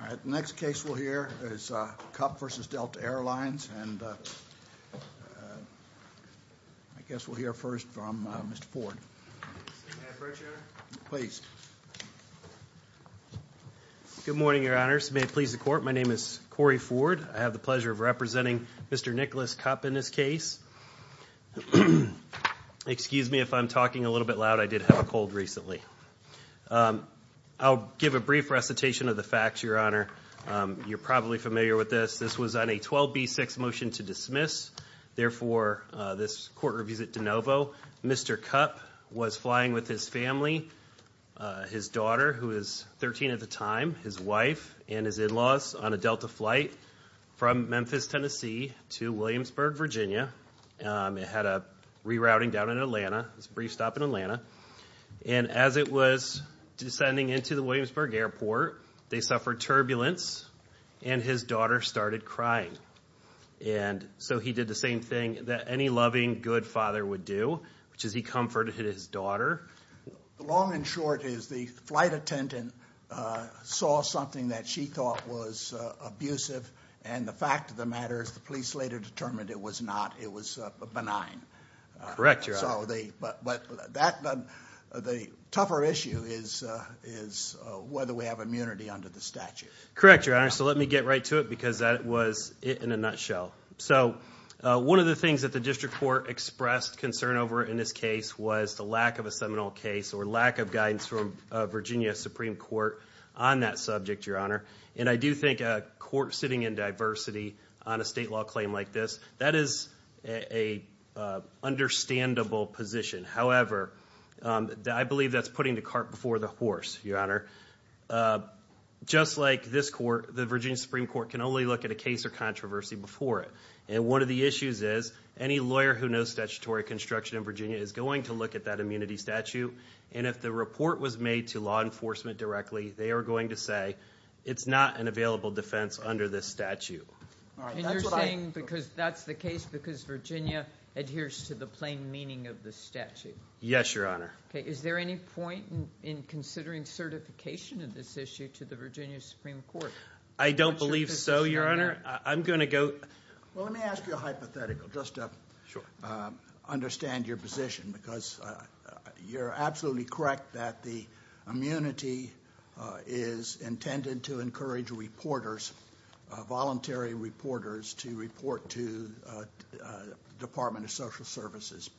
All right, the next case we'll hear is Cupp v. Delta Air Lines, and I guess we'll hear first from Mr. Ford. May I approach, Your Honor? Please. Good morning, Your Honors. May it please the Court, my name is Corey Ford. I have the pleasure of representing Mr. Nicholas Cupp in this case. Excuse me if I'm talking a little bit loud. I did have a cold recently. I'll give a brief recitation of the facts, Your Honor. You're probably familiar with this. This was on a 12B6 motion to dismiss. Therefore, this Court reviews it de novo. Mr. Cupp was flying with his family, his daughter, who was 13 at the time, his wife, and his in-laws on a Delta flight from Memphis, Tennessee to Williamsburg, Virginia. It had a rerouting down in Atlanta. It was a brief stop in Atlanta. And as it was descending into the Williamsburg airport, they suffered turbulence, and his daughter started crying. And so he did the same thing that any loving, good father would do, which is he comforted his daughter. The long and short is the flight attendant saw something that she thought was abusive, and the fact of the matter is the police later determined it was not. It was benign. Correct, Your Honor. But the tougher issue is whether we have immunity under the statute. Correct, Your Honor, so let me get right to it because that was it in a nutshell. So one of the things that the district court expressed concern over in this case was the lack of a seminal case or lack of guidance from Virginia Supreme Court on that subject, Your Honor. And I do think a court sitting in diversity on a state law claim like this, that is an understandable position. However, I believe that's putting the cart before the horse, Your Honor. Just like this court, the Virginia Supreme Court can only look at a case or controversy before it. And one of the issues is any lawyer who knows statutory construction in Virginia is going to look at that immunity statute. And if the report was made to law enforcement directly, they are going to say it's not an available defense under this statute. And you're saying because that's the case because Virginia adheres to the plain meaning of the statute. Yes, Your Honor. Is there any point in considering certification of this issue to the Virginia Supreme Court? I don't believe so, Your Honor. I'm going to go. Well, let me ask you a hypothetical just to understand your position because you're absolutely correct that the immunity is intended to encourage reporters, voluntary reporters to report to Department of Social Services.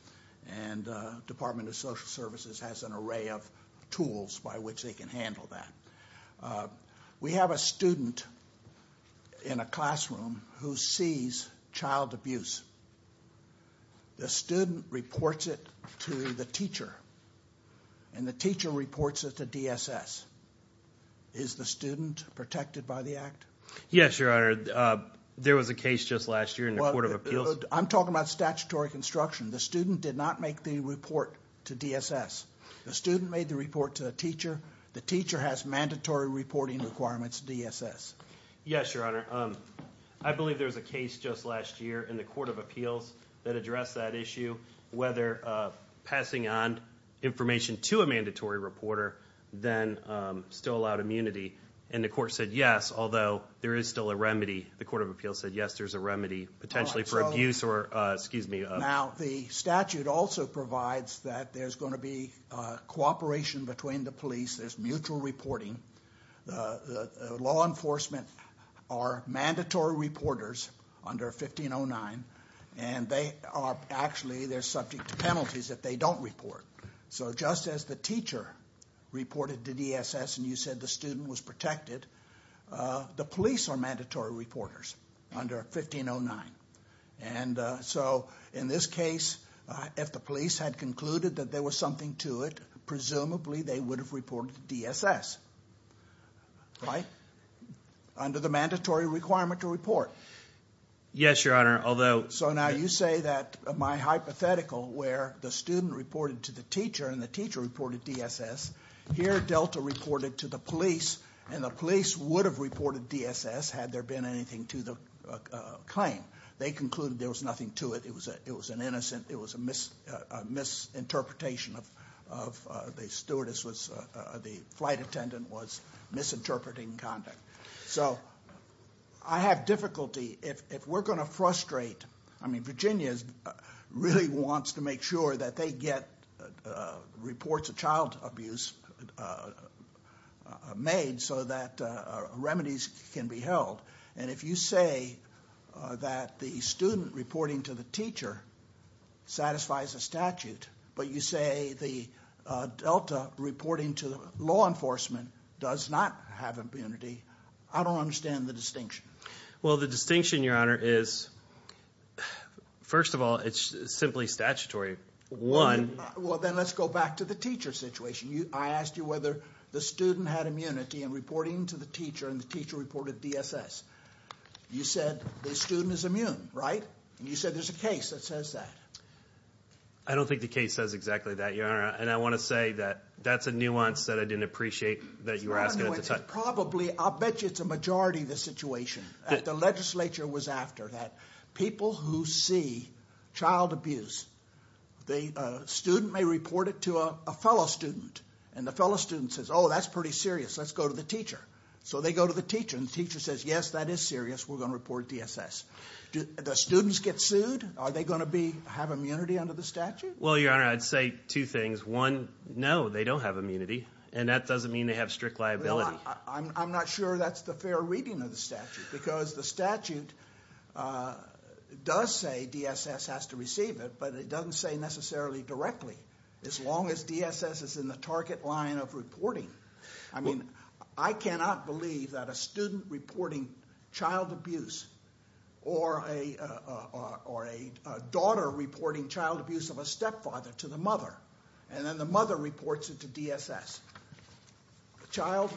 And Department of Social Services has an array of tools by which they can handle that. We have a student in a classroom who sees child abuse. The student reports it to the teacher, and the teacher reports it to DSS. Is the student protected by the act? Yes, Your Honor. There was a case just last year in the Court of Appeals. I'm talking about statutory construction. The student did not make the report to DSS. The student made the report to the teacher. The teacher has mandatory reporting requirements to DSS. Yes, Your Honor. I believe there was a case just last year in the Court of Appeals that addressed that issue, whether passing on information to a mandatory reporter then still allowed immunity. And the court said yes, although there is still a remedy. The Court of Appeals said yes, there's a remedy potentially for abuse or excuse me. Now, the statute also provides that there's going to be cooperation between the police. There's mutual reporting. Law enforcement are mandatory reporters under 1509, and they are actually subject to penalties if they don't report. So just as the teacher reported to DSS and you said the student was protected, the police are mandatory reporters under 1509. And so in this case, if the police had concluded that there was something to it, presumably they would have reported to DSS, right? Under the mandatory requirement to report. Yes, Your Honor. So now you say that my hypothetical where the student reported to the teacher and the teacher reported to DSS, here Delta reported to the police, and the police would have reported to DSS had there been anything to the claim. They concluded there was nothing to it. It was an innocent, it was a misinterpretation of the stewardess was, the flight attendant was misinterpreting conduct. So I have difficulty, if we're going to frustrate, I mean Virginia really wants to make sure that they get reports of child abuse made so that remedies can be held. And if you say that the student reporting to the teacher satisfies the statute, but you say the Delta reporting to law enforcement does not have immunity, I don't understand the distinction. Well, the distinction, Your Honor, is first of all, it's simply statutory. Well, then let's go back to the teacher situation. I asked you whether the student had immunity in reporting to the teacher and the teacher reported to DSS. You said the student is immune, right? You said there's a case that says that. I don't think the case says exactly that, Your Honor, and I want to say that that's a nuance that I didn't appreciate that you were asking at the time. Probably, I'll bet you it's a majority of the situation that the legislature was after, that people who see child abuse, the student may report it to a fellow student, and the fellow student says, oh, that's pretty serious, let's go to the teacher. So they go to the teacher, and the teacher says, yes, that is serious, we're going to report to DSS. Do the students get sued? Are they going to have immunity under the statute? Well, Your Honor, I'd say two things. One, no, they don't have immunity, and that doesn't mean they have strict liability. I'm not sure that's the fair reading of the statute, because the statute does say DSS has to receive it, but it doesn't say necessarily directly, as long as DSS is in the target line of reporting. I mean, I cannot believe that a student reporting child abuse or a daughter reporting child abuse of a stepfather to the mother, and then the mother reports it to DSS. The child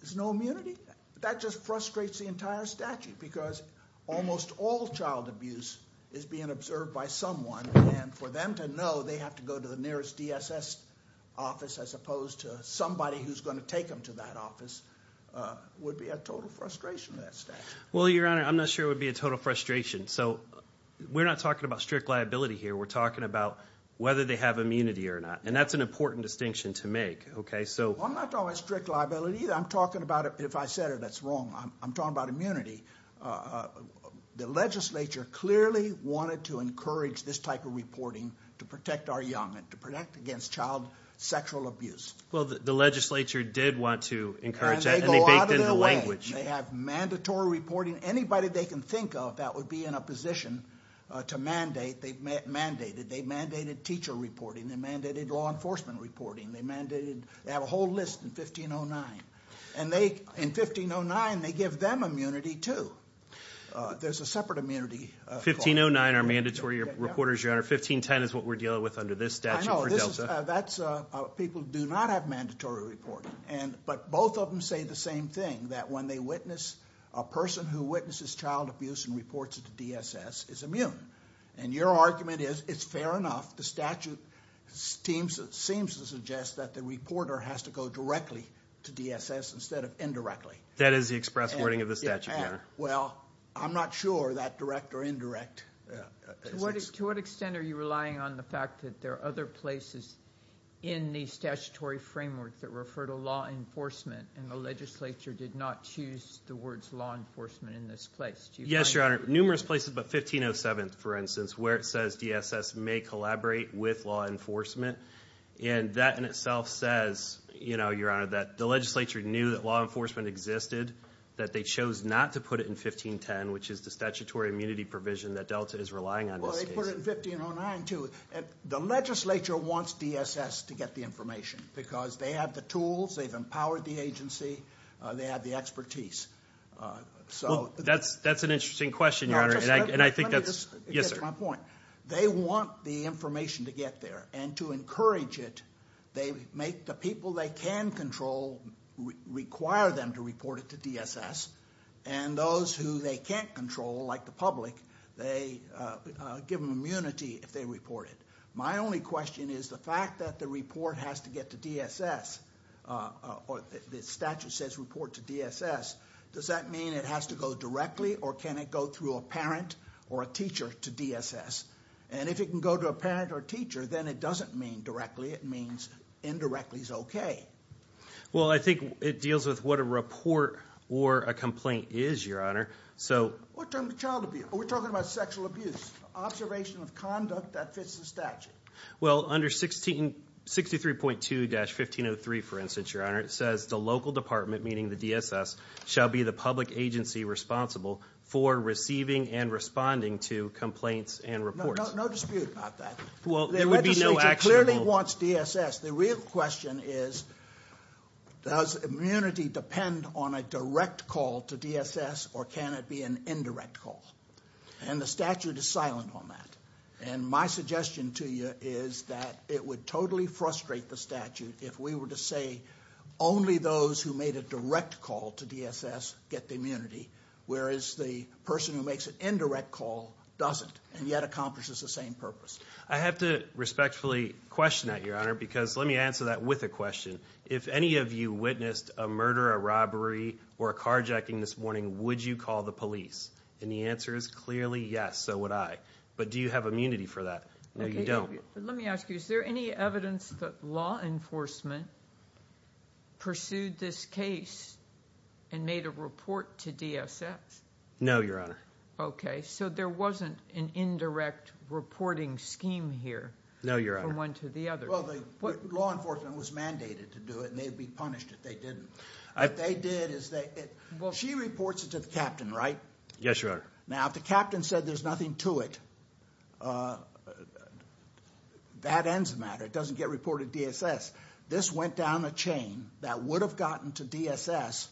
has no immunity? That just frustrates the entire statute, because almost all child abuse is being observed by someone, and for them to know they have to go to the nearest DSS office as opposed to somebody who's going to take them to that office would be a total frustration to that statute. Well, Your Honor, I'm not sure it would be a total frustration. So we're not talking about strict liability here. We're talking about whether they have immunity or not, and that's an important distinction to make. Well, I'm not talking about strict liability either. I'm talking about, if I said it, that's wrong. I'm talking about immunity. The legislature clearly wanted to encourage this type of reporting to protect our young and to protect against child sexual abuse. Well, the legislature did want to encourage that, and they baked in the language. They have mandatory reporting. Anybody they can think of that would be in a position to mandate, they've mandated. They've mandated teacher reporting. They've mandated law enforcement reporting. They have a whole list in 1509. And they, in 1509, they give them immunity too. There's a separate immunity. 1509 are mandatory reporters, Your Honor. 1510 is what we're dealing with under this statute for DELTA. People do not have mandatory reporting. But both of them say the same thing, that when they witness, a person who witnesses child abuse and reports it to DSS is immune. And your argument is it's fair enough. The statute seems to suggest that the reporter has to go directly to DSS instead of indirectly. That is the express wording of the statute, Your Honor. Well, I'm not sure that direct or indirect. To what extent are you relying on the fact that there are other places in the statutory framework that refer to law enforcement, and the legislature did not choose the words law enforcement in this place? Yes, Your Honor. There are numerous places, but 1507, for instance, where it says DSS may collaborate with law enforcement. And that in itself says, Your Honor, that the legislature knew that law enforcement existed, that they chose not to put it in 1510, which is the statutory immunity provision that DELTA is relying on in this case. Well, they put it in 1509 too. The legislature wants DSS to get the information because they have the tools, they've empowered the agency, they have the expertise. That's an interesting question, Your Honor, and I think that's... Let me just... Yes, sir. They want the information to get there, and to encourage it, they make the people they can control require them to report it to DSS, and those who they can't control, like the public, they give them immunity if they report it. My only question is the fact that the report has to get to DSS, the statute says report to DSS, does that mean it has to go directly or can it go through a parent or a teacher to DSS? And if it can go to a parent or a teacher, then it doesn't mean directly, it means indirectly is OK. Well, I think it deals with what a report or a complaint is, Your Honor. What term of child abuse? We're talking about sexual abuse, observation of conduct that fits the statute. Well, under 63.2-1503, for instance, Your Honor, it says the local department, meaning the DSS, shall be the public agency responsible for receiving and responding to complaints and reports. No dispute about that. Well, there would be no actionable... The legislature clearly wants DSS. The real question is does immunity depend on a direct call to DSS or can it be an indirect call? And the statute is silent on that. And my suggestion to you is that it would totally frustrate the statute if we were to say only those who made a direct call to DSS get the immunity, whereas the person who makes an indirect call doesn't and yet accomplishes the same purpose. I have to respectfully question that, Your Honor, because let me answer that with a question. If any of you witnessed a murder, a robbery, or a carjacking this morning, would you call the police? And the answer is clearly yes, so would I. But do you have immunity for that? No, you don't. Let me ask you, is there any evidence that law enforcement pursued this case and made a report to DSS? No, Your Honor. Okay, so there wasn't an indirect reporting scheme here from one to the other. Well, law enforcement was mandated to do it and they'd be punished if they didn't. What they did is they... She reports it to the captain, right? Yes, Your Honor. Now, if the captain said there's nothing to it, that ends the matter. It doesn't get reported to DSS. This went down a chain that would have gotten to DSS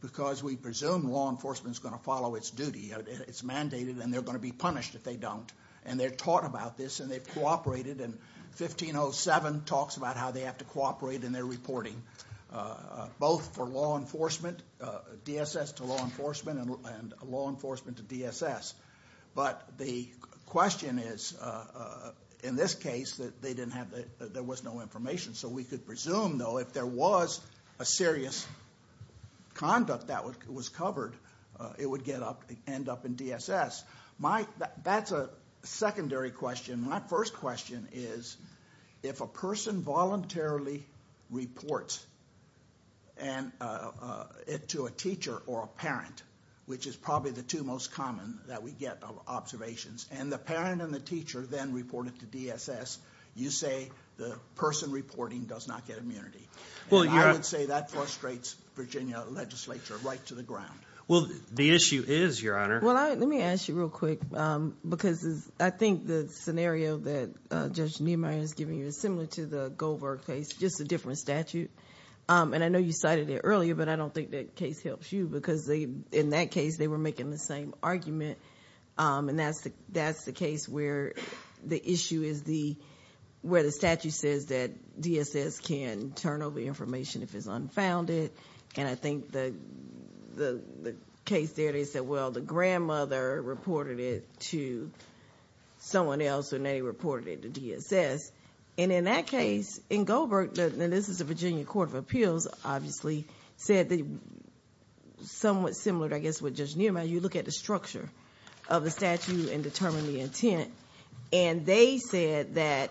because we presume law enforcement is going to follow its duty. It's mandated and they're going to be punished if they don't, and they're taught about this and they've cooperated. And 1507 talks about how they have to cooperate in their reporting, both for law enforcement, DSS to law enforcement, and law enforcement to DSS. But the question is, in this case, that there was no information. So we could presume, though, if there was a serious conduct that was covered, it would end up in DSS. That's a secondary question. My first question is, if a person voluntarily reports it to a teacher or a parent, which is probably the two most common that we get of observations, and the parent and the teacher then report it to DSS, you say the person reporting does not get immunity. I would say that frustrates Virginia legislature right to the ground. Well, the issue is, Your Honor... Let me ask you real quick because I think the scenario that Judge Niemeyer is giving you is similar to the Goldberg case, just a different statute. And I know you cited it earlier, but I don't think that case helps you because in that case they were making the same argument. And that's the case where the issue is where the statute says that DSS can turn over information if it's unfounded. And I think the case there, they said, well, the grandmother reported it to someone else and they reported it to DSS. And in that case, in Goldberg, and this is the Virginia Court of Appeals, obviously said somewhat similar, I guess, with Judge Niemeyer, you look at the structure of the statute and determine the intent. And they said that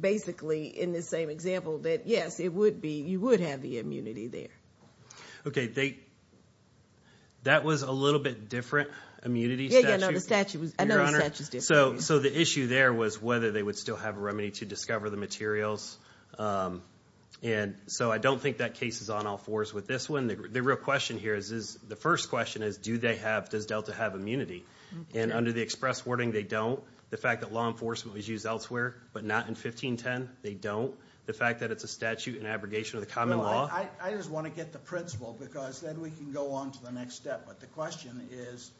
basically, in this same example, that, yes, it would be, you would have the immunity there. Okay, that was a little bit different immunity statute? Yeah, no, the statute was different. So the issue there was whether they would still have a remedy to discover the materials. And so I don't think that case is on all fours with this one. The real question here is, the first question is, do they have, does Delta have immunity? And under the express wording, they don't. The fact that law enforcement was used elsewhere, but not in 1510, they don't. The fact that it's a statute in abrogation of the common law. I just want to get the principle because then we can go on to the next step. But the question is,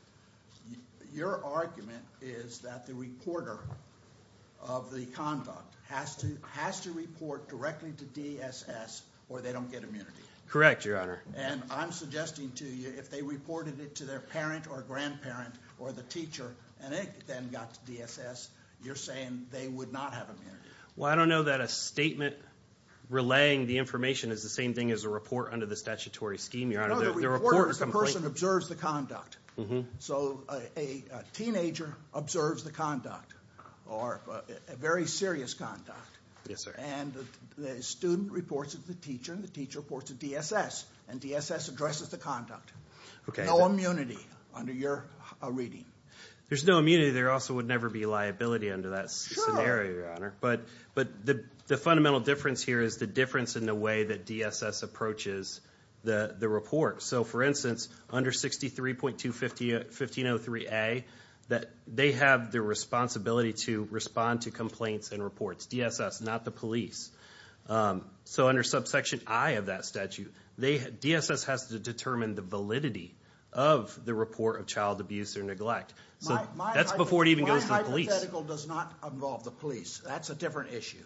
your argument is that the reporter of the conduct has to report directly to DSS or they don't get immunity. Correct, Your Honor. And I'm suggesting to you, if they reported it to their parent or grandparent or the teacher and it then got to DSS, you're saying they would not have immunity. Well, I don't know that a statement relaying the information is the same thing as a report under the statutory scheme, Your Honor. No, the reporter is the person who observes the conduct. So a teenager observes the conduct or very serious conduct. Yes, sir. And the student reports it to the teacher and the teacher reports it to DSS and DSS addresses the conduct. No immunity under your reading. There's no immunity. There also would never be liability under that scenario, Your Honor. But the fundamental difference here is the difference in the way that DSS approaches the report. So, for instance, under 63.1503A, they have the responsibility to respond to complaints and reports. DSS, not the police. So under subsection I of that statute, DSS has to determine the validity of the report of child abuse or neglect. That's before it even goes to the police. The hypothetical does not involve the police. That's a different issue.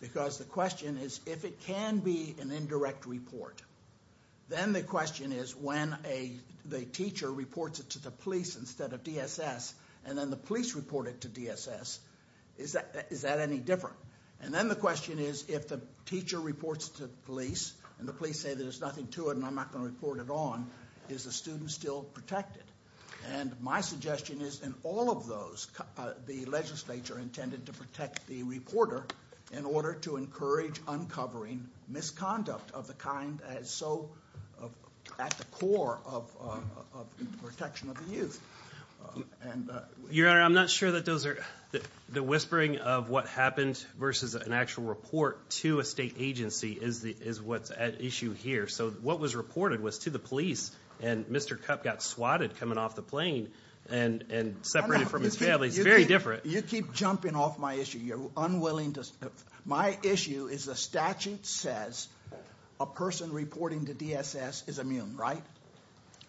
Because the question is if it can be an indirect report, then the question is when the teacher reports it to the police instead of DSS and then the police report it to DSS, is that any different? And then the question is if the teacher reports it to the police and the police say there's nothing to it and I'm not going to report it on, is the student still protected? And my suggestion is in all of those, the legislature intended to protect the reporter in order to encourage uncovering misconduct of the kind as so at the core of protection of the youth. Your Honor, I'm not sure that those are the whispering of what happened versus an actual report to a state agency is what's at issue here. So what was reported was to the police and Mr. Cup got swatted coming off the plane and separated from his family. It's very different. You keep jumping off my issue. My issue is the statute says a person reporting to DSS is immune, right?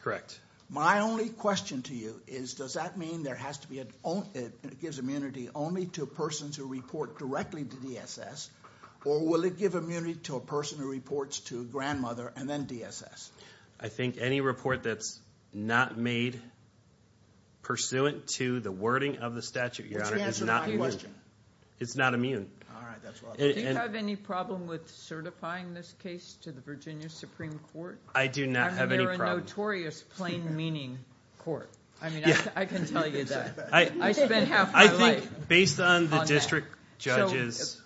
Correct. My only question to you is does that mean it gives immunity only to persons who report directly to DSS or will it give immunity to a person who reports to a grandmother and then DSS? I think any report that's not made pursuant to the wording of the statute, Your Honor, is not immune. It's not immune. Do you have any problem with certifying this case to the Virginia Supreme Court? I do not have any problem. You're a notorious plain meaning court. I mean, I can tell you that. I spent half my life on that. Judges.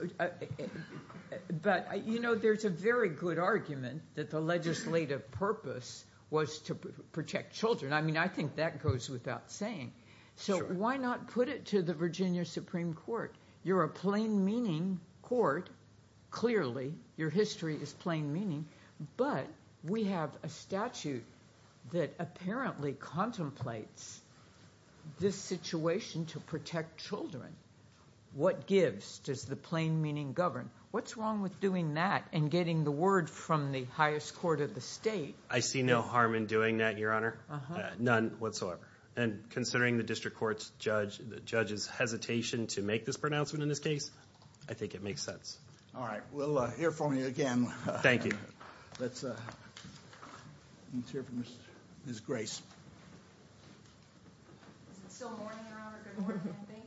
But, you know, there's a very good argument that the legislative purpose was to protect children. I mean, I think that goes without saying. So why not put it to the Virginia Supreme Court? You're a plain meaning court, clearly. Your history is plain meaning. But we have a statute that apparently contemplates this situation to protect children. What gives? Does the plain meaning govern? What's wrong with doing that and getting the word from the highest court of the state? I see no harm in doing that, Your Honor. None whatsoever. And considering the district court's judge's hesitation to make this pronouncement in this case, I think it makes sense. All right. We'll hear from you again. Thank you. Let's hear from Ms. Grace. Is it still morning, Your Honor? Good morning, I think.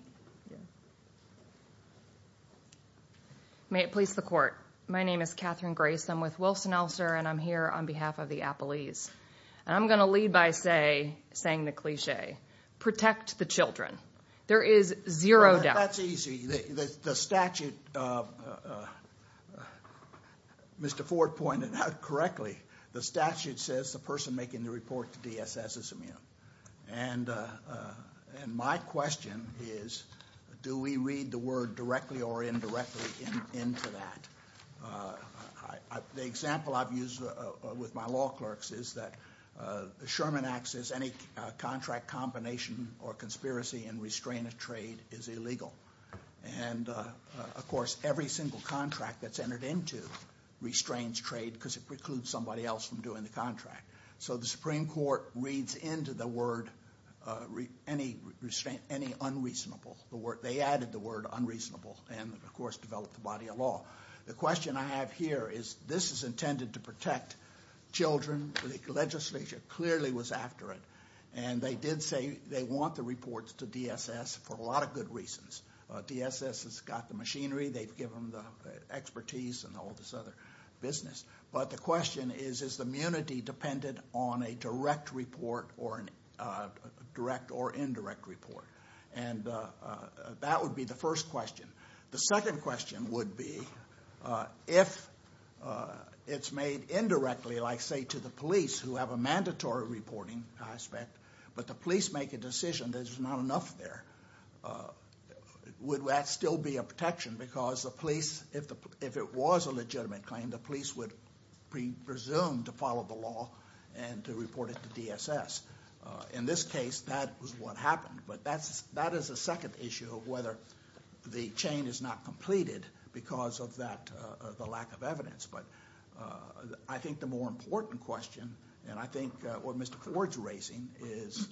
May it please the court. My name is Catherine Grace. I'm with Wilson-Elster, and I'm here on behalf of the Appalese. And I'm going to lead by saying the cliche. Protect the children. There is zero doubt. That's easy. The statute, Mr. Ford pointed out correctly, the statute says the person making the report to DSS is immune. And my question is, do we read the word directly or indirectly into that? The example I've used with my law clerks is that the Sherman Act says any contract combination or conspiracy and restraint of trade is illegal. And, of course, every single contract that's entered into restrains trade because it precludes somebody else from doing the contract. So the Supreme Court reads into the word any unreasonable. They added the word unreasonable and, of course, developed the body of law. The question I have here is this is intended to protect children. The legislature clearly was after it. And they did say they want the reports to DSS for a lot of good reasons. DSS has got the machinery. They've given them the expertise and all this other business. But the question is, is the immunity dependent on a direct report or a direct or indirect report? And that would be the first question. The second question would be if it's made indirectly, like, say, to the police who have a mandatory reporting aspect, but the police make a decision that there's not enough there, would that still be a protection? Because the police, if it was a legitimate claim, the police would presume to follow the law and to report it to DSS. In this case, that was what happened. But that is the second issue of whether the chain is not completed because of the lack of evidence. But I think the more important question, and I think what Mr. Ford's raising, is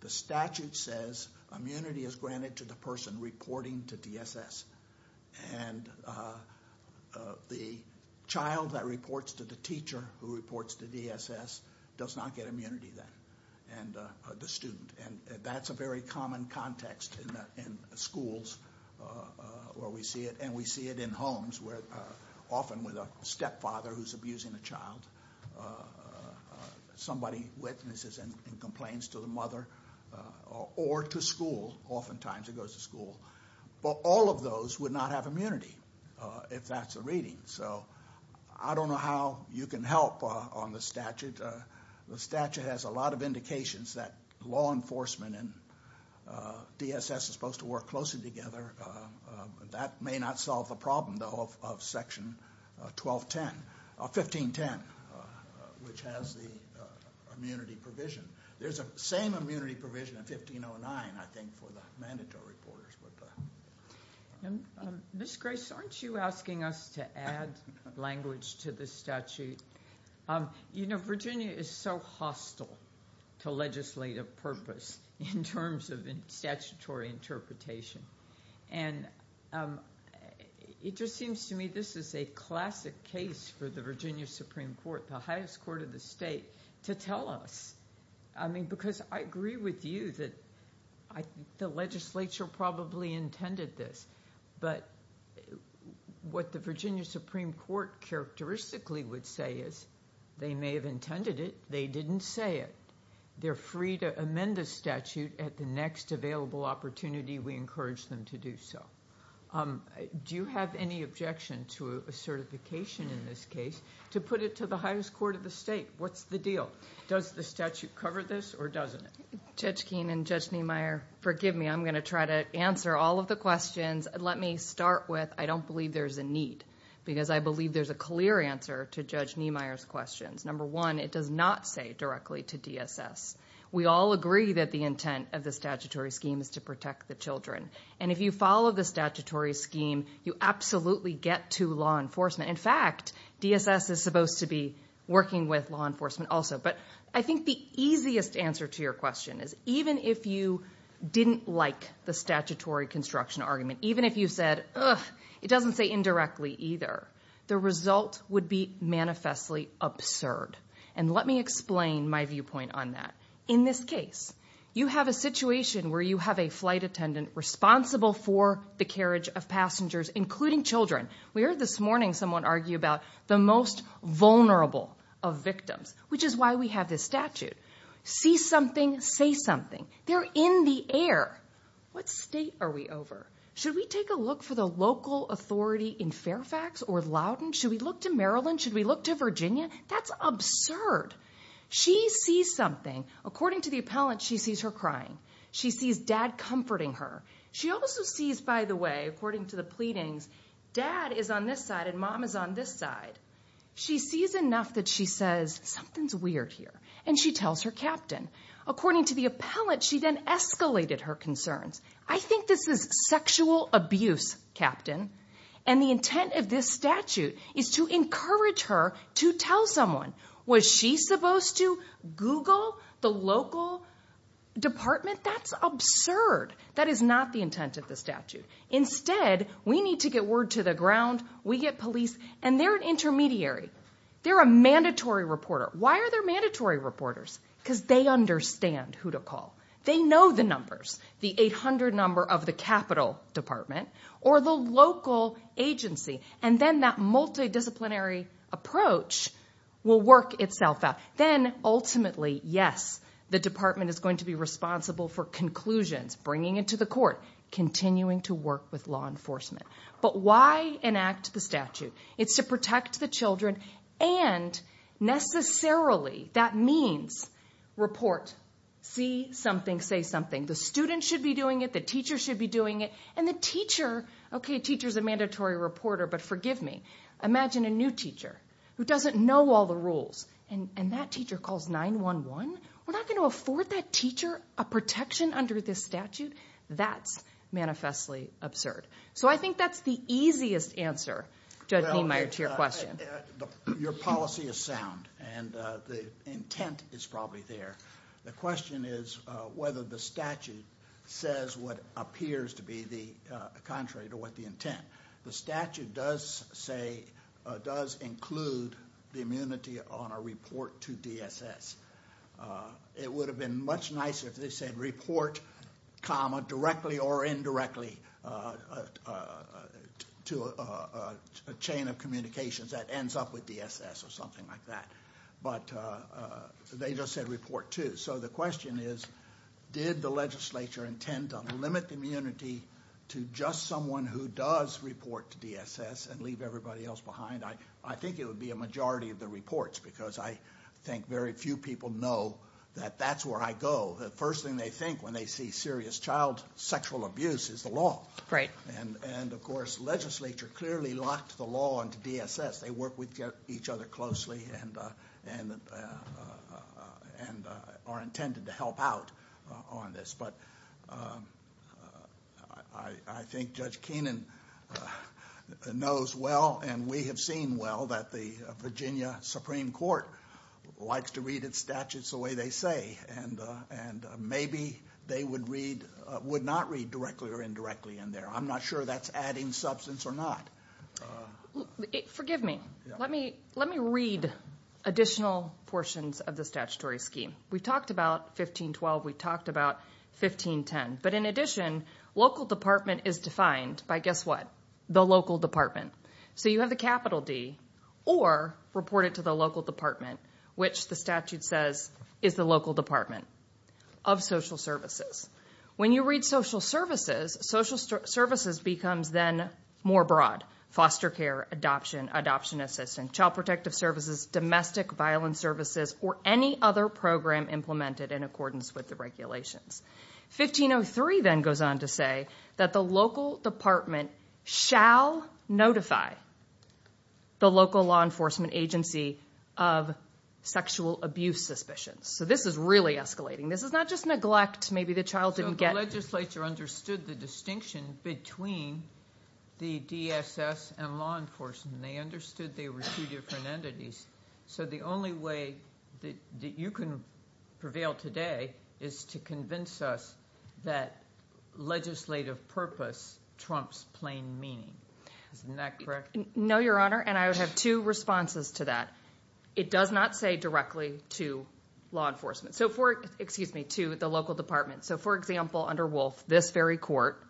the statute says immunity is granted to the person reporting to DSS. And the child that reports to the teacher who reports to DSS does not get immunity then, the student. And that's a very common context in schools where we see it. In homes where often with a stepfather who's abusing a child, somebody witnesses and complains to the mother or to school. Oftentimes it goes to school. But all of those would not have immunity if that's the reading. So I don't know how you can help on the statute. The statute has a lot of indications that law enforcement and DSS are supposed to work closely together. That may not solve the problem, though, of Section 1510, which has the immunity provision. There's a same immunity provision in 1509, I think, for the mandatory reporters. Ms. Grace, aren't you asking us to add language to the statute? You know, Virginia is so hostile to legislative purpose in terms of statutory interpretation. And it just seems to me this is a classic case for the Virginia Supreme Court, the highest court of the state, to tell us. I mean, because I agree with you that the legislature probably intended this. But what the Virginia Supreme Court characteristically would say is they may have intended it. They didn't say it. They're free to amend the statute at the next available opportunity. We encourage them to do so. Do you have any objection to a certification in this case to put it to the highest court of the state? What's the deal? Does the statute cover this or doesn't it? Judge Keene and Judge Niemeyer, forgive me. I'm going to try to answer all of the questions. Let me start with I don't believe there's a need because I believe there's a clear answer to Judge Niemeyer's questions. Number one, it does not say directly to DSS. We all agree that the intent of the statutory scheme is to protect the children. And if you follow the statutory scheme, you absolutely get to law enforcement. In fact, DSS is supposed to be working with law enforcement also. But I think the easiest answer to your question is even if you didn't like the statutory construction argument, even if you said it doesn't say indirectly either, the result would be manifestly absurd. And let me explain my viewpoint on that. In this case, you have a situation where you have a flight attendant responsible for the carriage of passengers, including children. We heard this morning someone argue about the most vulnerable of victims, which is why we have this statute. See something, say something. They're in the air. What state are we over? Should we take a look for the local authority in Fairfax or Loudoun? Should we look to Maryland? Should we look to Virginia? That's absurd. She sees something. According to the appellant, she sees her crying. She sees dad comforting her. She also sees, by the way, according to the pleadings, dad is on this side and mom is on this side. She sees enough that she says, something's weird here, and she tells her captain. According to the appellant, she then escalated her concerns. I think this is sexual abuse, captain, and the intent of this statute is to encourage her to tell someone. Was she supposed to Google the local department? That's absurd. That is not the intent of the statute. Instead, we need to get word to the ground, we get police, and they're an intermediary. They're a mandatory reporter. Why are they mandatory reporters? Because they understand who to call. They know the numbers, the 800 number of the capital department or the local agency, and then that multidisciplinary approach will work itself out. Then, ultimately, yes, the department is going to be responsible for conclusions, bringing it to the court, continuing to work with law enforcement. But why enact the statute? It's to protect the children and necessarily, that means, report. See something, say something. The student should be doing it, the teacher should be doing it, and the teacher, okay, teacher's a mandatory reporter, but forgive me. Imagine a new teacher who doesn't know all the rules, and that teacher calls 911. We're not going to afford that teacher a protection under this statute? That's manifestly absurd. So I think that's the easiest answer, Judge Niemeyer, to your question. Your policy is sound, and the intent is probably there. The question is whether the statute says what appears to be contrary to what the intent. The statute does say, does include the immunity on a report to DSS. It would have been much nicer if they said report comma directly or indirectly to a chain of communications that ends up with DSS or something like that. But they just said report to. So the question is, did the legislature intend to limit the immunity to just someone who does report to DSS and leave everybody else behind? I think it would be a majority of the reports, because I think very few people know that that's where I go. The first thing they think when they see serious child sexual abuse is the law. And, of course, legislature clearly locked the law into DSS. They work with each other closely and are intended to help out on this. But I think Judge Keenan knows well and we have seen well that the Virginia Supreme Court likes to read its statutes the way they say. And maybe they would not read directly or indirectly in there. I'm not sure that's adding substance or not. Forgive me. Let me read additional portions of the statutory scheme. We talked about 1512. We talked about 1510. But in addition, local department is defined by guess what? The local department. So you have a capital D or report it to the local department, which the statute says is the local department of social services. When you read social services, social services becomes then more broad. Foster care, adoption, adoption assistance, child protective services, domestic violence services, or any other program implemented in accordance with the regulations. 1503 then goes on to say that the local department shall notify the local law enforcement agency of sexual abuse suspicions. So this is really escalating. This is not just neglect. Maybe the child didn't get. So the legislature understood the distinction between the DSS and law enforcement. They understood they were two different entities. So the only way that you can prevail today is to convince us that legislative purpose trumps plain meaning. Isn't that correct? No, Your Honor, and I would have two responses to that. It does not say directly to law enforcement. So for, excuse me, to the local department. So, for example, under Wolf, this very court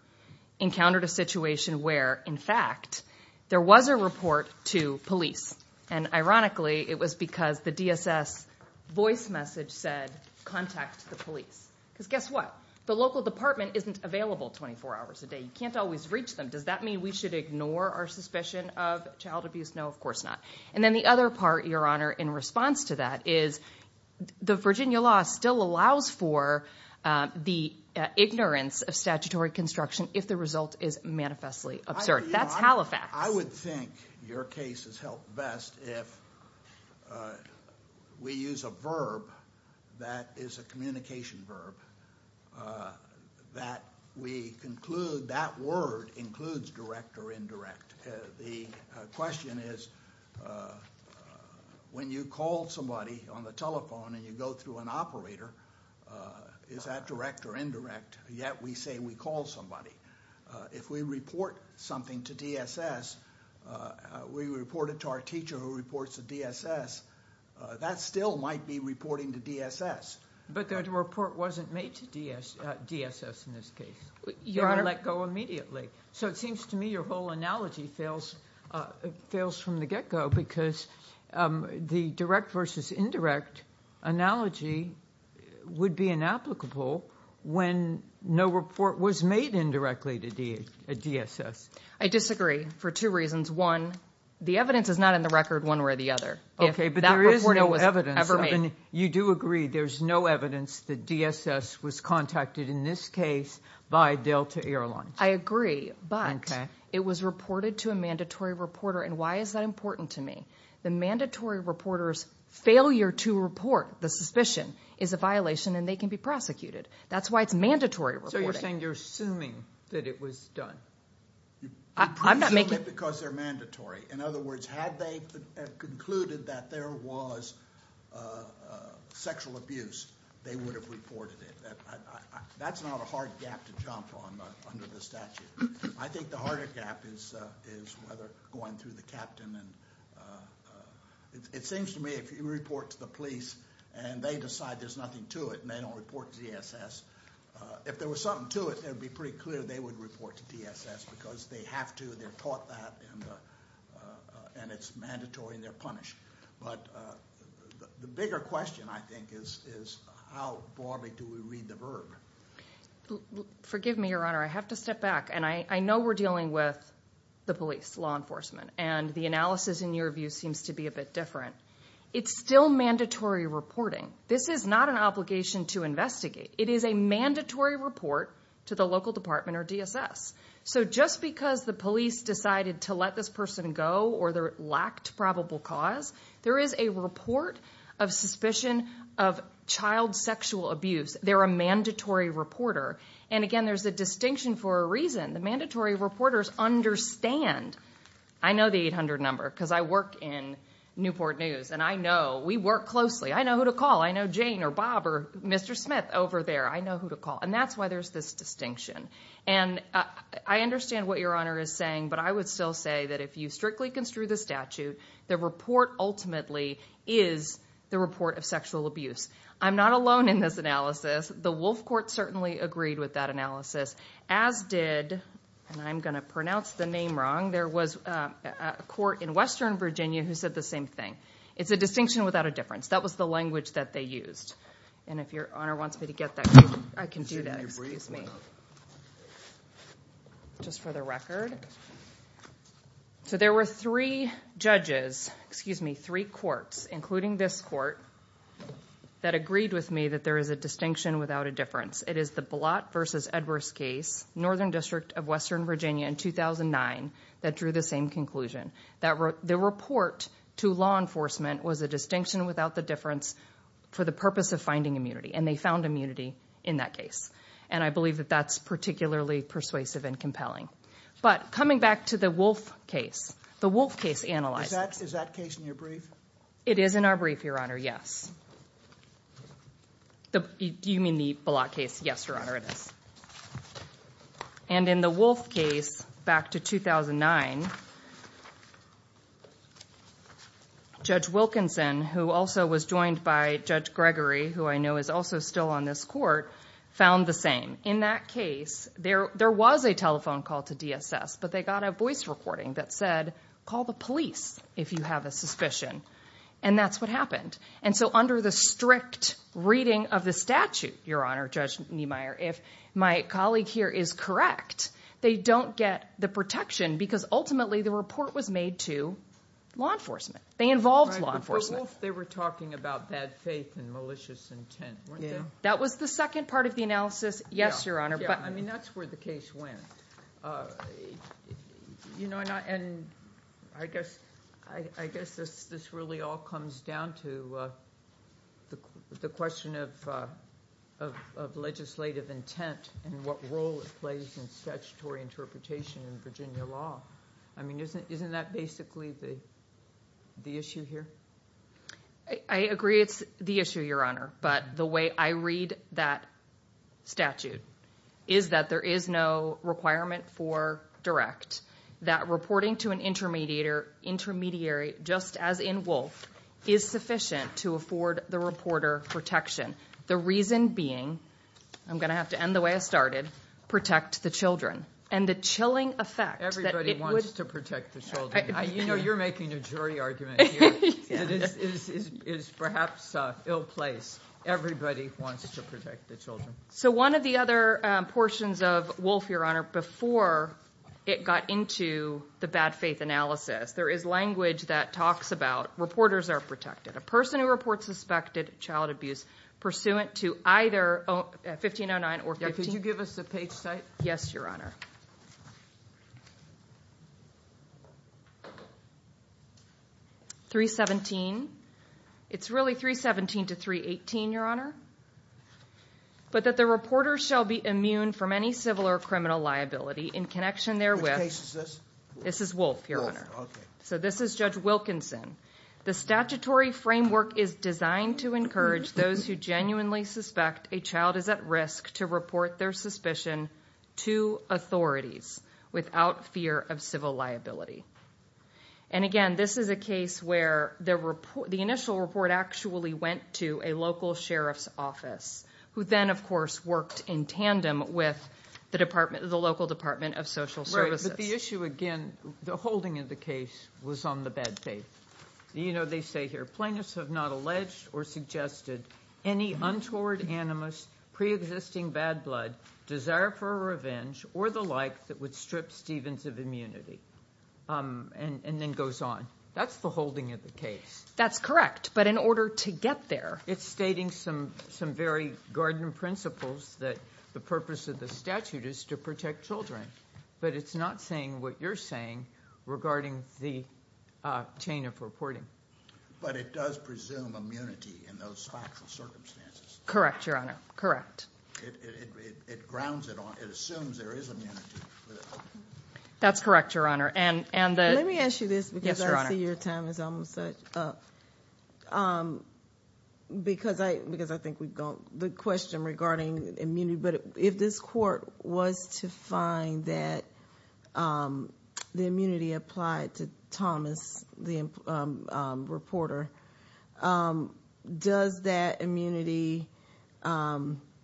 encountered a situation where, in fact, there was a report to police. And ironically, it was because the DSS voice message said contact the police. Because guess what? The local department isn't available 24 hours a day. You can't always reach them. Does that mean we should ignore our suspicion of child abuse? No, of course not. And then the other part, Your Honor, in response to that is the Virginia law still allows for the ignorance of statutory construction if the result is manifestly absurd. That's Halifax. I would think your case has helped best if we use a verb that is a communication verb that we conclude that word includes direct or indirect. The question is when you call somebody on the telephone and you go through an operator, is that direct or indirect? Yet we say we call somebody. If we report something to DSS, we report it to our teacher who reports to DSS, that still might be reporting to DSS. But that report wasn't made to DSS in this case. Your Honor... They let go immediately. So it seems to me your whole analogy fails from the get-go because the direct versus indirect analogy would be inapplicable when no report was made indirectly to DSS. I disagree for two reasons. One, the evidence is not in the record one way or the other. Okay, but there is no evidence. If that reporting was ever made. You do agree there's no evidence that DSS was contacted in this case by Delta Airlines. I agree, but it was reported to a mandatory reporter, and why is that important to me? The mandatory reporter's failure to report the suspicion is a violation and they can be prosecuted. That's why it's mandatory reporting. So you're saying you're assuming that it was done? I'm not making... You presume it because they're mandatory. In other words, had they concluded that there was sexual abuse, they would have reported it. That's not a hard gap to jump on under the statute. I think the harder gap is whether going through the captain and... It seems to me if you report to the police and they decide there's nothing to it and they don't report to DSS, if there was something to it, it would be pretty clear they would report to DSS because they have to, they're taught that, and it's mandatory and they're punished. But the bigger question, I think, is how broadly do we read the verb? Forgive me, Your Honor. I have to step back, and I know we're dealing with the police, law enforcement, and the analysis in your view seems to be a bit different. It's still mandatory reporting. This is not an obligation to investigate. It is a mandatory report to the local department or DSS. Just because the police decided to let this person go or there lacked probable cause, there is a report of suspicion of child sexual abuse. They're a mandatory reporter. Again, there's a distinction for a reason. The mandatory reporters understand. I know the 800 number because I work in Newport News, and I know we work closely. I know who to call. I know Jane or Bob or Mr. Smith over there. I know who to call, and that's why there's this distinction. And I understand what Your Honor is saying, but I would still say that if you strictly construe the statute, the report ultimately is the report of sexual abuse. I'm not alone in this analysis. The Wolf Court certainly agreed with that analysis, as did, and I'm going to pronounce the name wrong, there was a court in Western Virginia who said the same thing. It's a distinction without a difference. That was the language that they used. And if Your Honor wants me to get that, I can do that. Excuse me. Just for the record. So there were three judges, excuse me, three courts, including this court, that agreed with me that there is a distinction without a difference. It is the Blott v. Edwards case, Northern District of Western Virginia in 2009, that drew the same conclusion. The report to law enforcement was a distinction without the difference for the purpose of finding immunity, and they found immunity in that case. And I believe that that's particularly persuasive and compelling. But coming back to the Wolf case, the Wolf case analysis. Is that case in your brief? It is in our brief, Your Honor, yes. You mean the Blott case? Yes, Your Honor, it is. And in the Wolf case, back to 2009, Judge Wilkinson, who also was joined by Judge Gregory, who I know is also still on this court, found the same. In that case, there was a telephone call to DSS, but they got a voice recording that said, call the police if you have a suspicion. And that's what happened. And so under the strict reading of the statute, Your Honor, Judge Niemeyer, if my colleague here is correct, they don't get the protection because ultimately the report was made to law enforcement. They involved law enforcement. But Wolf, they were talking about bad faith and malicious intent, weren't they? That was the second part of the analysis, yes, Your Honor. I mean, that's where the case went. And I guess this really all comes down to the question of legislative intent and what role it plays in statutory interpretation in Virginia law. I mean, isn't that basically the issue here? I agree it's the issue, Your Honor. But the way I read that statute is that there is no requirement for direct, that reporting to an intermediary, just as in Wolf, is sufficient to afford the reporter protection. The reason being, I'm going to have to end the way I started, protect the children. Everybody wants to protect the children. You know you're making a jury argument here. It is perhaps an ill place. Everybody wants to protect the children. So one of the other portions of Wolf, Your Honor, before it got into the bad faith analysis, there is language that talks about reporters are protected. A person who reports suspected child abuse pursuant to either 1509 or 15… Could you give us the page type? Yes, Your Honor. 317. It's really 317 to 318, Your Honor. But that the reporter shall be immune from any civil or criminal liability in connection therewith… What case is this? This is Wolf, Your Honor. Wolf, okay. So this is Judge Wilkinson. The statutory framework is designed to encourage those who genuinely suspect a child is at risk to report their suspicion to authorities without fear of civil liability. And again, this is a case where the initial report actually went to a local sheriff's office, who then, of course, worked in tandem with the local Department of Social Services. But the issue, again, the holding of the case was on the bad faith. You know, they say here, plaintiffs have not alleged or suggested any untoward, animus, preexisting bad blood, desire for revenge, or the like that would strip Stevens of immunity. And then goes on. That's the holding of the case. That's correct. But in order to get there… It's stating some very garden principles that the purpose of the statute is to protect children. But it's not saying what you're saying regarding the chain of reporting. But it does presume immunity in those factual circumstances. Correct, Your Honor. Correct. It grounds it on, it assumes there is immunity. That's correct, Your Honor. And the… Let me ask you this because I see your time is almost up. Because I think we've gone… The question regarding immunity. But if this court was to find that the immunity applied to Thomas, the reporter, does that immunity…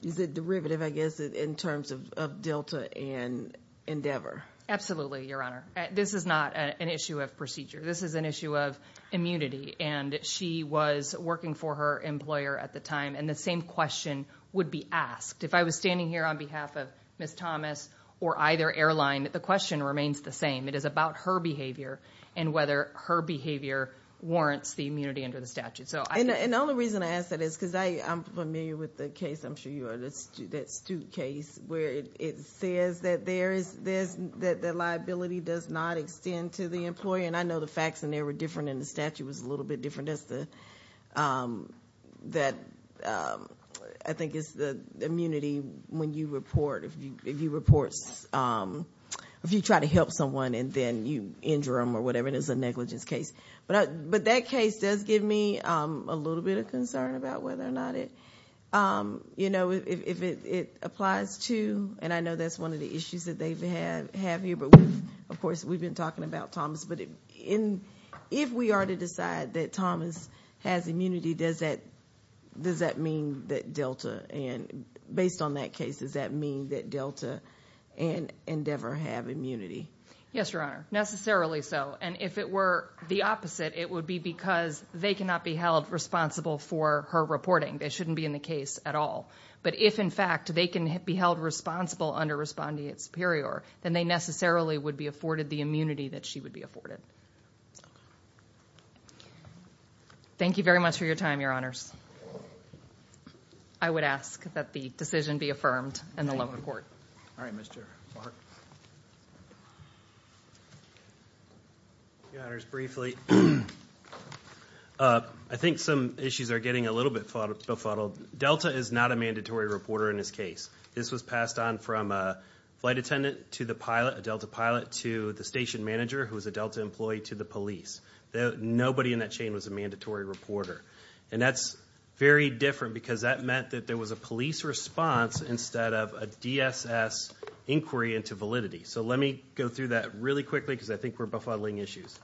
Is it derivative, I guess, in terms of Delta and Endeavor? Absolutely, Your Honor. This is not an issue of procedure. This is an issue of immunity. And she was working for her employer at the time. And the same question would be asked. If I was standing here on behalf of Ms. Thomas or either airline, the question remains the same. It is about her behavior and whether her behavior warrants the immunity under the statute. And the only reason I ask that is because I'm familiar with the case. I'm sure you are. That Stute case where it says that the liability does not extend to the employer. And I know the facts in there were different and the statute was a little bit different. That, I think, is the immunity when you report. If you try to help someone and then you injure them or whatever, it is a negligence case. But that case does give me a little bit of concern about whether or not it applies to… And I know that's one of the issues that they have here. Of course, we've been talking about Thomas. But if we are to decide that Thomas has immunity, does that mean that Delta, and based on that case, does that mean that Delta and Endeavor have immunity? Yes, Your Honor. Necessarily so. And if it were the opposite, it would be because they cannot be held responsible for her reporting. That shouldn't be in the case at all. But if, in fact, they can be held responsible under respondeat superior, then they necessarily would be afforded the immunity that she would be afforded. Thank you very much for your time, Your Honors. I would ask that the decision be affirmed in the local court. All right, Mr. Clark. Your Honors, briefly, I think some issues are getting a little bit befuddled. Delta is not a mandatory reporter in this case. This was passed on from a flight attendant to the pilot, a Delta pilot, to the station manager who is a Delta employee to the police. Nobody in that chain was a mandatory reporter. And that's very different because that meant that there was a police response instead of a DSS inquiry into validity. So let me go through that really quickly because I think we're befuddling issues.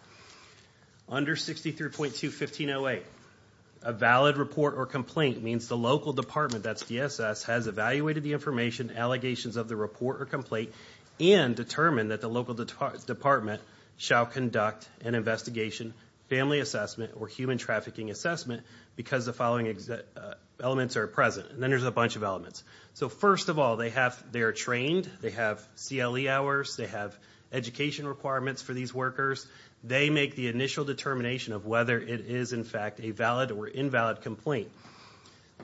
Under 63.2-1508, a valid report or complaint means the local department, that's DSS, has evaluated the information, allegations of the report or complaint, and determined that the local department shall conduct an investigation, family assessment, or human trafficking assessment because the following elements are present. And then there's a bunch of elements. So first of all, they are trained, they have CLE hours, they have education requirements for these workers. They make the initial determination of whether it is, in fact, a valid or invalid complaint.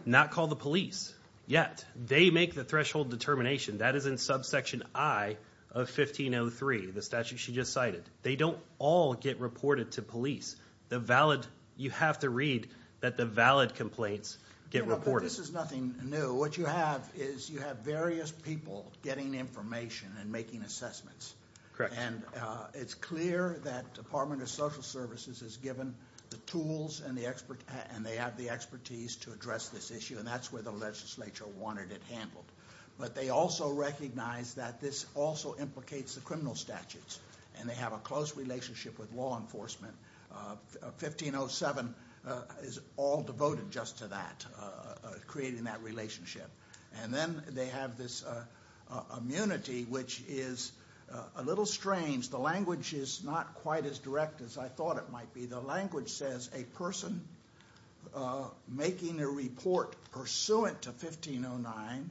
Not called the police yet. They make the threshold determination. That is in subsection I of 1503, the statute she just cited. They don't all get reported to police. The valid, you have to read that the valid complaints get reported. But this is nothing new. What you have is you have various people getting information and making assessments. Correct. And it's clear that the Department of Social Services has given the tools and they have the expertise to address this issue, and that's where the legislature wanted it handled. But they also recognize that this also implicates the criminal statutes, and they have a close relationship with law enforcement. 1507 is all devoted just to that, creating that relationship. And then they have this immunity, which is a little strange. The language is not quite as direct as I thought it might be. The language says a person making a report pursuant to 1509,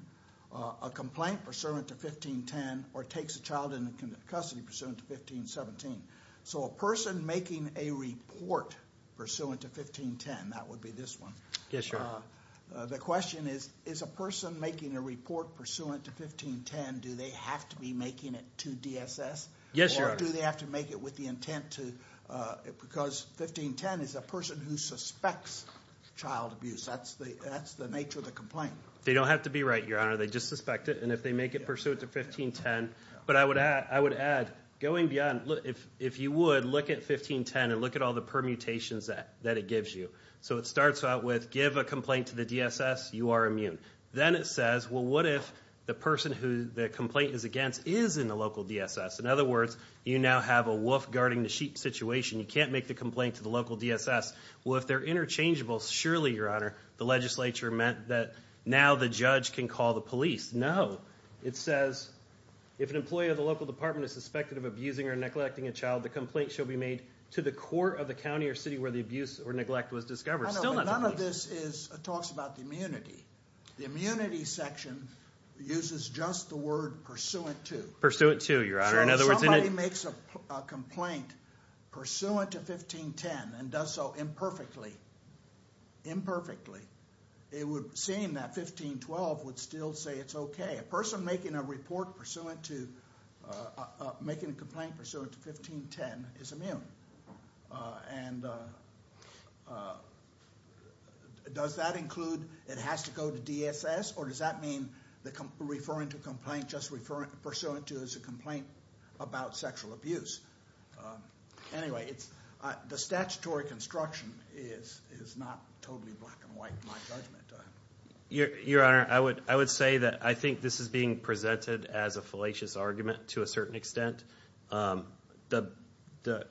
a complaint pursuant to 1510, or takes a child into custody pursuant to 1517. So a person making a report pursuant to 1510, that would be this one. Yes, sir. The question is, is a person making a report pursuant to 1510, do they have to be making it to DSS? Yes, Your Honor. Or do they have to make it with the intent to, because 1510 is a person who suspects child abuse. That's the nature of the complaint. They don't have to be right, Your Honor. They just suspect it, and if they make it pursuant to 1510. But I would add, going beyond, if you would, look at 1510 and look at all the permutations that it gives you. So it starts out with give a complaint to the DSS, you are immune. Then it says, well, what if the person who the complaint is against is in the local DSS? In other words, you now have a wolf guarding the sheep situation. You can't make the complaint to the local DSS. Well, if they're interchangeable, surely, Your Honor, the legislature meant that now the judge can call the police. No. It says, if an employee of the local department is suspected of abusing or neglecting a child, the complaint shall be made to the court of the county or city where the abuse or neglect was discovered. Still not the police. None of this talks about the immunity. The immunity section uses just the word pursuant to. Pursuant to, Your Honor. So if somebody makes a complaint pursuant to 1510 and does so imperfectly, it would seem that 1512 would still say it's okay. A person making a complaint pursuant to 1510 is immune. And does that include it has to go to DSS, or does that mean referring to a complaint just pursuant to is a complaint about sexual abuse? Anyway, the statutory construction is not totally black and white, in my judgment. Your Honor, I would say that I think this is being presented as a fallacious argument to a certain extent. The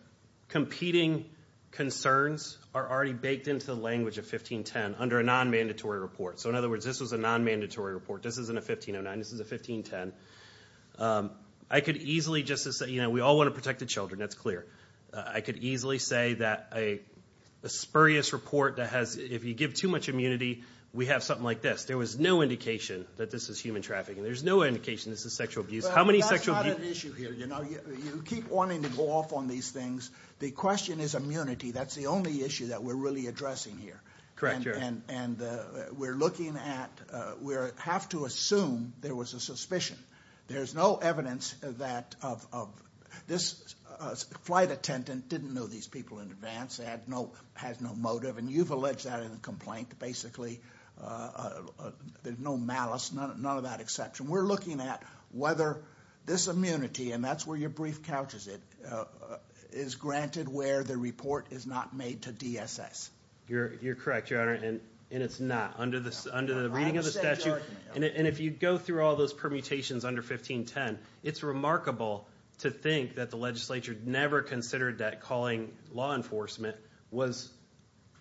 competing concerns are already baked into the language of 1510 under a non-mandatory report. So, in other words, this was a non-mandatory report. This isn't a 1509. This is a 1510. I could easily just say, you know, we all want to protect the children. That's clear. I could easily say that a spurious report that has, if you give too much immunity, we have something like this. There was no indication that this is human trafficking. There's no indication this is sexual abuse. Well, that's not an issue here, you know. You keep wanting to go off on these things. The question is immunity. That's the only issue that we're really addressing here. Correct, Your Honor. And we're looking at, we have to assume there was a suspicion. There's no evidence that this flight attendant didn't know these people in advance. They had no motive, and you've alleged that in the complaint. Basically, there's no malice, none of that exception. We're looking at whether this immunity, and that's where your brief couches it, is granted where the report is not made to DSS. You're correct, Your Honor, and it's not. Under the reading of the statute, and if you go through all those permutations under 1510, it's remarkable to think that the legislature never considered that calling law enforcement was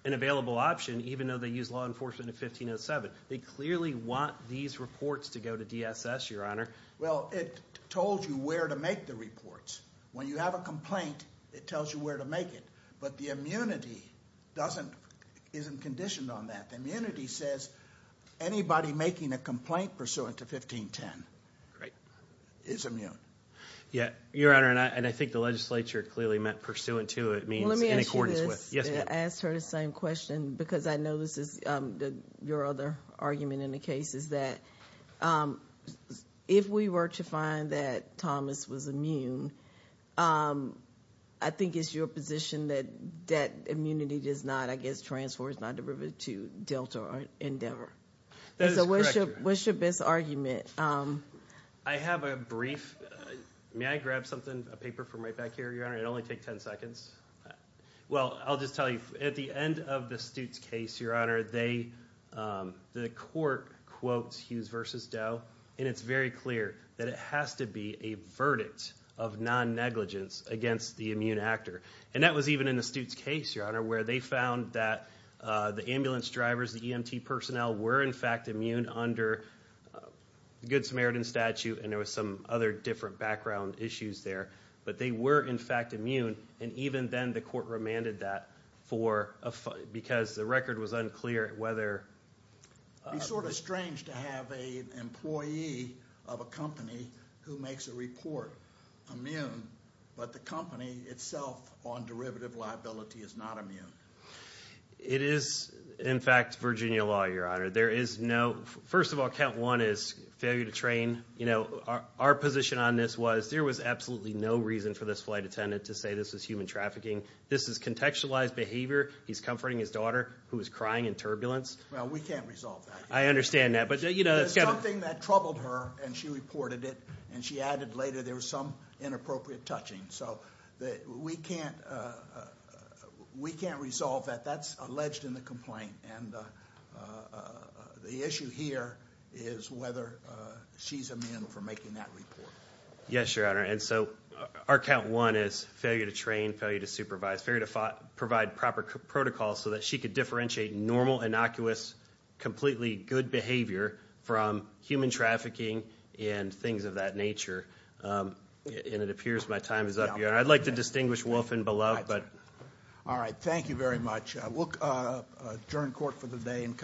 an available option, even though they used law enforcement in 1507. They clearly want these reports to go to DSS, Your Honor. Well, it told you where to make the reports. When you have a complaint, it tells you where to make it, but the immunity isn't conditioned on that. The immunity says anybody making a complaint pursuant to 1510 is immune. Yeah, Your Honor, and I think the legislature clearly meant pursuant to it means in accordance with. I asked her the same question because I know this is your other argument in the case, is that if we were to find that Thomas was immune, I think it's your position that that immunity does not, I guess, transfer or is not derivative to Delta or Endeavor. That is correct, Your Honor. So what's your best argument? I have a brief. May I grab something, a paper from right back here, Your Honor? It'll only take 10 seconds. Well, I'll just tell you, at the end of the Stutes case, Your Honor, the court quotes Hughes v. Doe, and it's very clear that it has to be a verdict of non-negligence against the immune actor. And that was even in the Stutes case, Your Honor, where they found that the ambulance drivers, the EMT personnel, were in fact immune under the Good Samaritan Statute, and there were some other different background issues there. But they were in fact immune, and even then the court remanded that because the record was unclear whether— It's sort of strange to have an employee of a company who makes a report immune, but the company itself on derivative liability is not immune. It is, in fact, Virginia law, Your Honor. There is no—first of all, count one is failure to train. Our position on this was there was absolutely no reason for this flight attendant to say this was human trafficking. This is contextualized behavior. He's comforting his daughter who is crying in turbulence. Well, we can't resolve that. I understand that. There's something that troubled her, and she reported it, and she added later there was some inappropriate touching. So we can't resolve that. That's alleged in the complaint, and the issue here is whether she's immune from making that report. Yes, Your Honor, and so our count one is failure to train, failure to supervise, failure to provide proper protocols so that she could differentiate normal, innocuous, completely good behavior from human trafficking and things of that nature, and it appears my time is up, Your Honor. I'd like to distinguish wolf and beloved, but— All right, thank you very much. We'll adjourn court for the day.